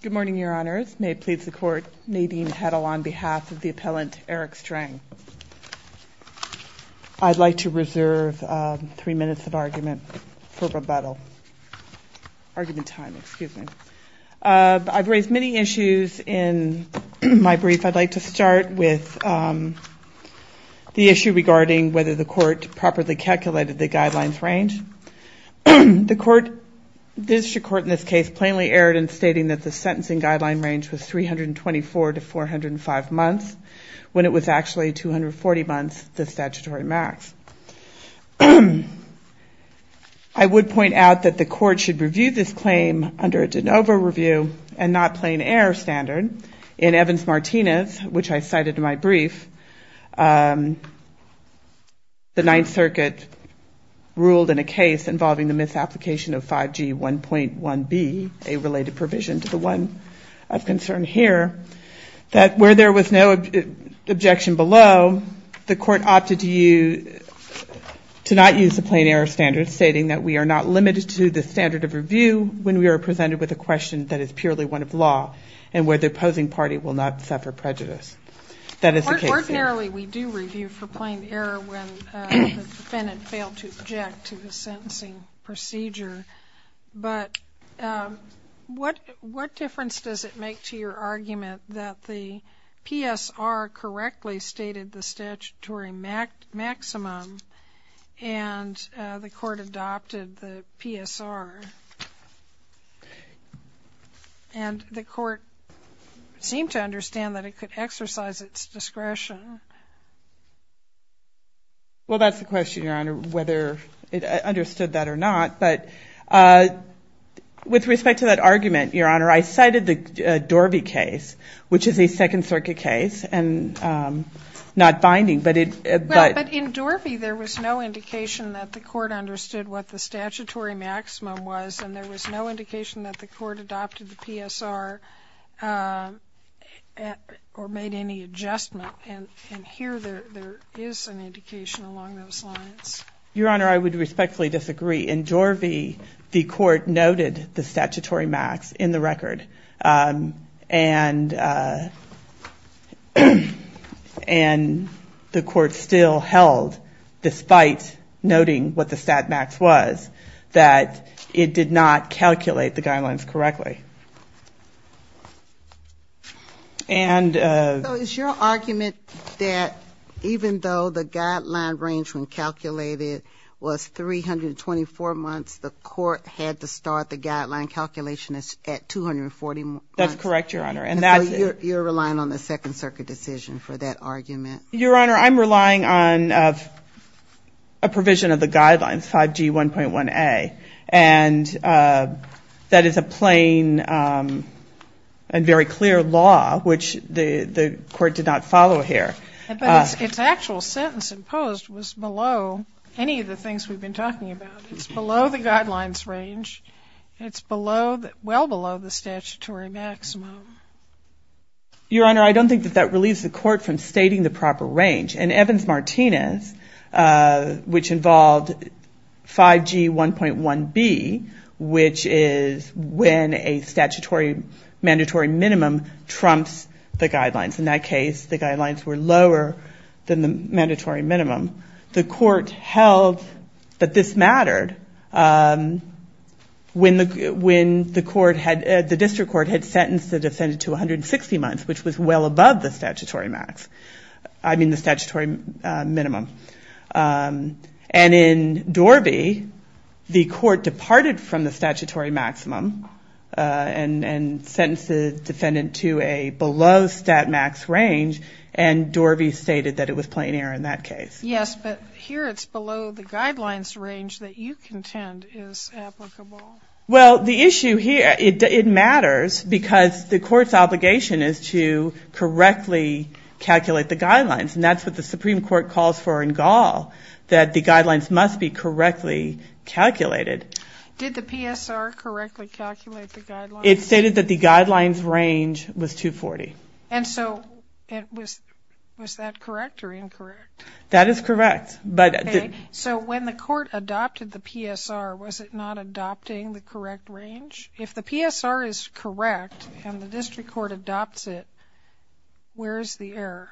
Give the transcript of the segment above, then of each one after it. Good morning, Your Honors. May it please the Court, Nadine Heddle on behalf of the appellant Eric Streng. I'd like to reserve three minutes of argument for rebuttal. Argument time, excuse me. I've raised many issues in my brief. I'd like to start with the issue regarding whether the Court properly calculated the guidelines range. The District Court in this case plainly erred in stating that the sentencing guideline range was 324 to 405 months, when it was actually 240 months, the statutory max. I would point out that the Court should review this claim under a de novo review and not plain error standard. In Evans-Martinez, which I cited in my brief, the Ninth Circuit ruled in a case involving the misapplication of 5G 1.1b, a related provision to the one of concern here, that where there was no objection below, the Court opted to not use a plain error standard, stating that we are not limited to the standard of review when we are presented with a question that is purely one of law and where the opposing party will not suffer prejudice. That is the case here. Ordinarily, we do review for plain error when the defendant failed to object to the sentencing procedure, but what difference does it make to your argument that the PSR correctly stated the statutory maximum and the Court adopted the PSR, and the Court seemed to understand that it could exercise its discretion? Well, that's the question, Your Honor, whether it understood that or not, but with respect to that argument, Your Honor, I cited the Dorvey case, which is a Second Circuit case, and not binding, but it But in Dorvey, there was no indication that the Court understood what the statutory maximum was and there was no indication that the Court adopted the PSR or made any adjustment, and here there is an indication along those lines. Your Honor, I would respectfully disagree. In Dorvey, the Court noted the statutory max in the record, and the Court still held, despite noting what the stat max was, that it did not calculate the guidelines correctly. So is your argument that even though the guideline range when calculated was 324 months, the Court had to start the guideline calculation at 240 months? That's correct, Your Honor. And so you're relying on the Second Circuit decision for that argument? Your Honor, I'm relying on a provision of the guidelines, 5G 1.1a, and that is a plain and very clear law, which the Court did not follow here. Its actual sentence imposed was below any of the things we've been talking about. It's below the guidelines range. It's well below the statutory maximum. Your Honor, I don't think that that relieves the Court from stating the proper range. In Evans-Martinez, which involved 5G 1.1b, which is when a statutory mandatory minimum trumps the guidelines. In that case, the guidelines were lower than the mandatory minimum. The Court held that this mattered when the District Court had sentenced the defendant to 160 months, which was well above the statutory minimum. And in Dorby, the Court departed from the statutory maximum and sentenced the defendant to a below stat max range, and Dorby stated that it was plain error in that case. Yes, but here it's below the guidelines range that you contend is applicable. Well, the issue here, it matters because the Court's obligation is to correctly calculate the guidelines, and that's what the Supreme Court calls for in Gall, that the guidelines must be correctly calculated. Did the PSR correctly calculate the guidelines? It stated that the guidelines range was 240. And so, was that correct or incorrect? That is correct. Okay, so when the Court adopted the PSR, was it not adopting the correct range? If the PSR is correct and the District Court adopts it, where is the error?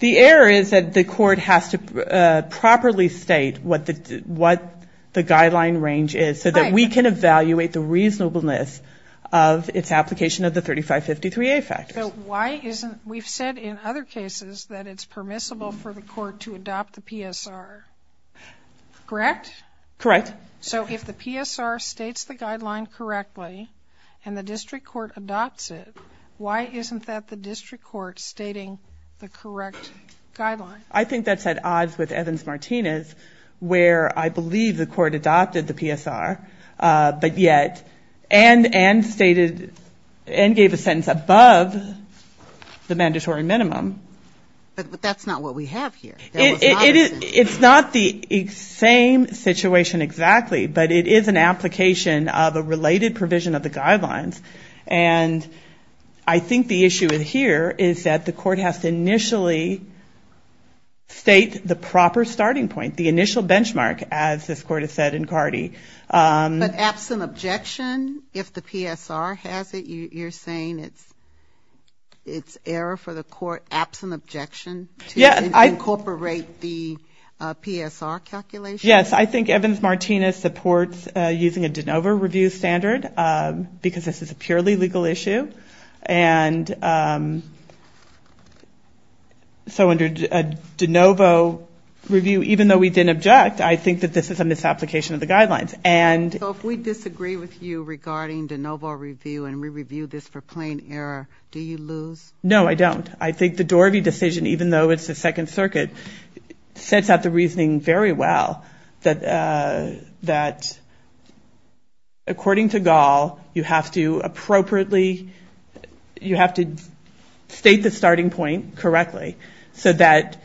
The error is that the Court has to properly state what the guideline range is so that we can evaluate the reasonableness of its application of the 3553A factors. So why isn't, we've said in other cases that it's permissible for the Court to adopt the PSR, correct? Correct. So if the PSR states the guideline correctly and the District Court adopts it, why isn't that the District Court stating the correct guideline? I think that's at odds with Evans-Martinez, where I believe the Court adopted the PSR, but yet, and stated, and gave a sentence above the mandatory minimum. But that's not what we have here. It's not the same situation exactly, but it is an application of a related provision of the guidelines. And I think the issue here is that the Court has to initially state the proper starting point, the initial benchmark, as this Court has said in Cardey. But absent objection, if the PSR has it, you're saying it's error for the Court, absent objection, to incorporate the PSR calculation? Yes, I think Evans-Martinez supports using a de novo review standard, because this is a purely legal issue. And so under a de novo review, even though we didn't object, I think that this is a misapplication of the guidelines. So if we disagree with you regarding de novo review and we review this for plain error, do you lose? No, I don't. I think the Dorothy decision, even though it's the Second Circuit, sets out the reasoning you have to state the starting point correctly so that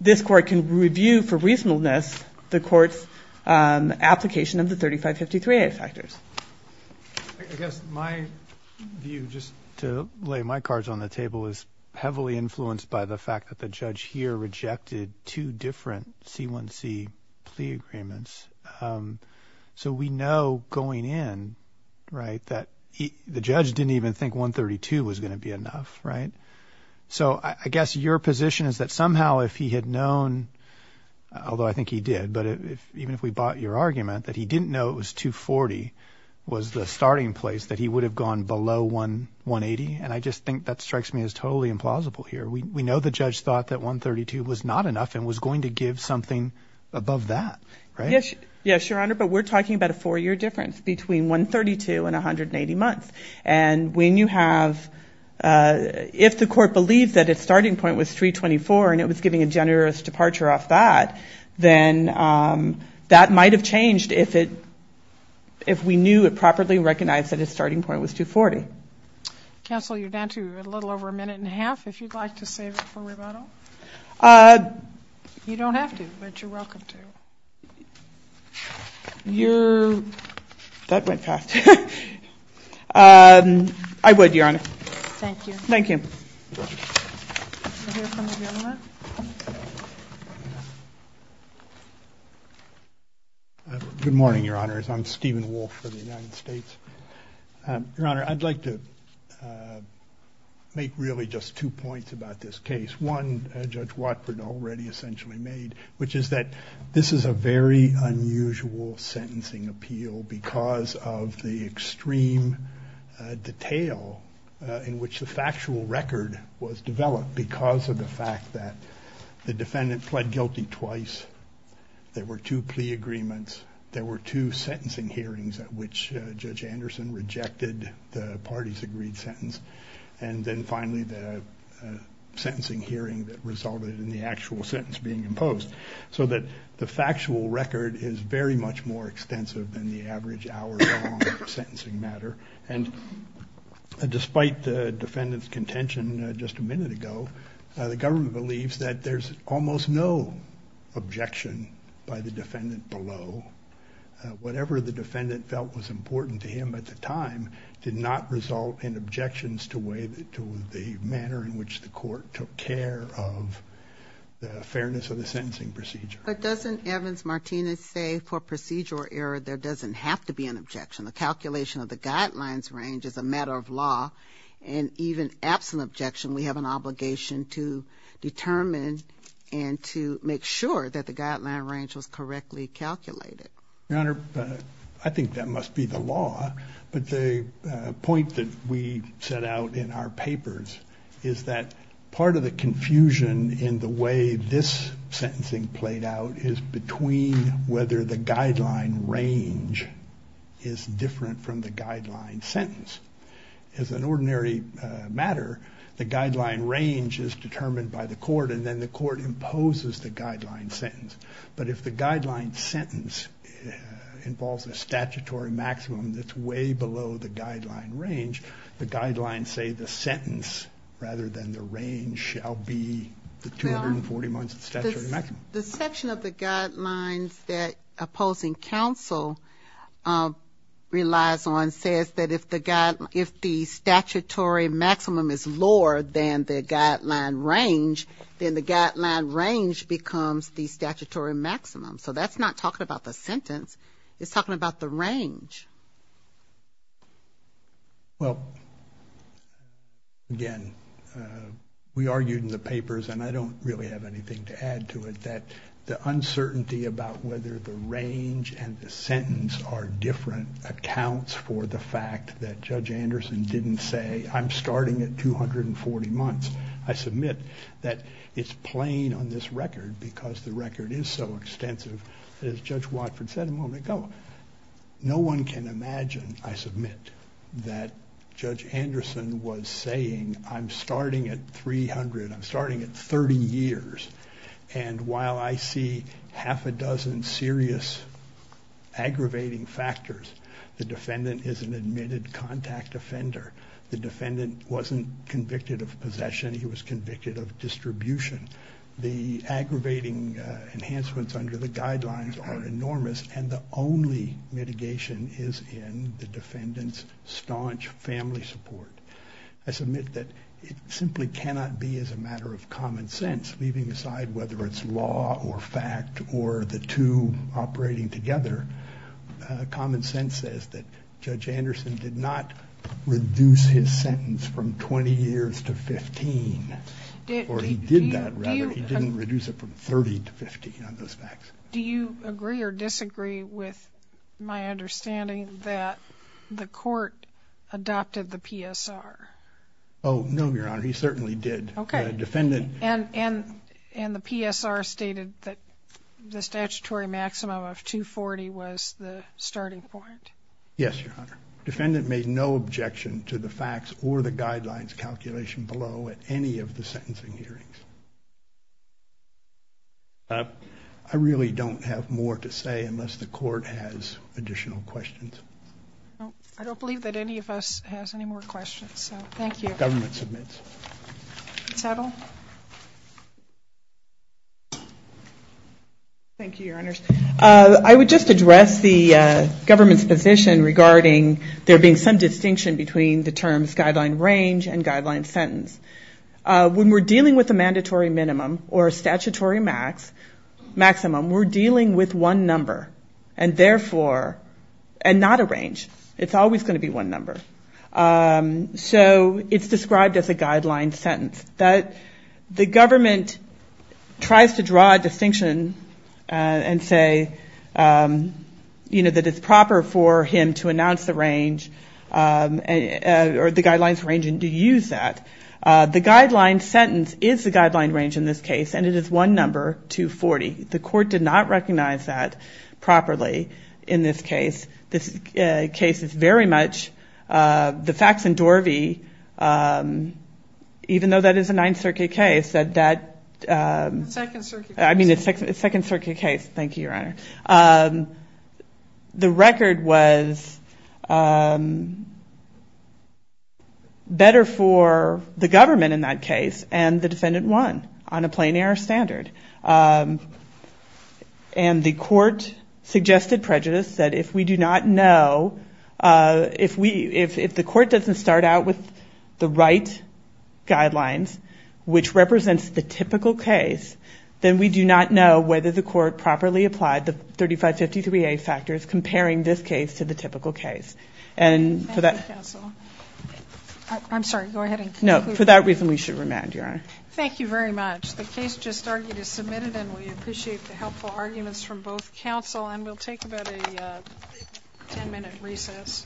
this Court can review for reasonableness the Court's application of the 3553A factors. I guess my view, just to lay my cards on the table, is heavily influenced by the fact that the judge here rejected two different C1C plea agreements. So we know going in, right, that the judge didn't even think 132 was going to be enough, right? So I guess your position is that somehow if he had known, although I think he did, but even if we bought your argument, that he didn't know it was 240 was the starting place, that he would have gone below 180? And I just think that strikes me as totally implausible here. We know the judge thought that 132 was not enough and was going to give something above that, right? Yes, Your Honor, but we're talking about a four-year difference between 132 and 180 months. And when you have, if the Court believes that its starting point was 324 and it was giving a generous departure off that, then that might have changed if we knew and properly recognized that its starting point was 240. Counsel, you're down to a little over a minute and a half, if you'd like to save it for rebuttal. You don't have to, but you're welcome to. You're, that went fast. I would, Your Honor. Thank you. Thank you. I hear from the gentleman. Good morning, Your Honors. I'm Stephen Wolf for the United States. Your Honor, I'd like to make really just two points about this case. One, Judge Watford already essentially made, which is that this is a very unusual sentencing appeal because of the extreme detail in which the factual record was developed because of the fact that the defendant pled guilty twice, there were two plea agreements, there were two sentencing hearings at which Judge Anderson rejected the parties' agreed sentence, and then finally the sentencing hearing that resulted in the actual sentence being imposed, so that the factual record is very much more extensive than the average hour-long sentencing matter, and despite the defendant's contention just a minute ago, the government believes that there's almost no objection by the defendant below. Whatever the defendant felt was important to him at the time did not result in objections to the manner in which the court took care of the fairness of the sentencing procedure. But doesn't Evans-Martinez say for procedure error there doesn't have to be an objection? The calculation of the guidelines range is a matter of law, and even absent objection we have an obligation to determine and to make sure that the guideline range was correctly calculated. Your Honor, I think that must be the law, but the point that we set out in our papers is that part of the confusion in the way this sentencing played out is between whether the guideline range is different from the guideline sentence. As an ordinary matter, the guideline range is determined by the court and then the court involves a statutory maximum that's way below the guideline range. The guidelines say the sentence rather than the range shall be the 240 months of statutory maximum. The section of the guidelines that opposing counsel relies on says that if the statutory maximum is lower than the guideline range, then the guideline range becomes the statutory maximum. So that's not talking about the sentence, it's talking about the range. Well again, we argued in the papers, and I don't really have anything to add to it, that the uncertainty about whether the range and the sentence are different accounts for the fact that Judge Anderson didn't say I'm starting at 240 months. I submit that it's plain on this record because the record is so extensive that as Judge Watford said a moment ago, no one can imagine, I submit, that Judge Anderson was saying I'm starting at 300, I'm starting at 30 years, and while I see half a dozen serious aggravating factors, the defendant is an admitted contact offender. The defendant wasn't convicted of possession, he was convicted of distribution. The aggravating enhancements under the guidelines are enormous, and the only mitigation is in the defendant's staunch family support. I submit that it simply cannot be as a matter of common sense, leaving aside whether it's law or fact or the two operating together. Common sense says that Judge Anderson did not reduce his sentence from 20 years to 15, or he did that rather, he didn't reduce it from 30 to 15 on those facts. Do you agree or disagree with my understanding that the court adopted the PSR? Oh, no, Your Honor, he certainly did. And the PSR stated that the statutory maximum of 240 was the starting point. Yes, Your Honor. Defendant made no objection to the facts or the guidelines calculation below at any of the sentencing hearings. I really don't have more to say unless the court has additional questions. I don't believe that any of us has any more questions, so thank you. The court is adjourned. Thank you, Your Honor. I would just address the government's position regarding there being some distinction between the terms guideline range and guideline sentence. When we're dealing with a mandatory minimum or a statutory maximum, we're dealing with one number, and therefore, and not a range. It's always going to be one number. So, it's described as a guideline sentence. The government tries to draw a distinction and say, you know, that it's proper for him to announce the range or the guidelines range and to use that. The guideline sentence is the guideline range in this case, and it is one number, 240. The court did not recognize that properly in this case. This case is very much the facts and Dorvey, even though that is a Ninth Circuit case, that that... It's Second Circuit. I mean, it's Second Circuit case. Thank you, Your Honor. The record was better for the government in that case, and the defendant won on a plain error standard. And the court suggested prejudice that if we do not know, if the court doesn't start out with the right guidelines, which represents the typical case, then we do not know whether the court properly applied the 3553A factors comparing this case to the typical case. And for that... Thank you, counsel. I'm sorry. Go ahead and conclude. No. For that reason, we should remand, Your Honor. Thank you very much. The case just argued is submitted, and we appreciate the helpful arguments from both counsel. And we'll take about a ten-minute recess.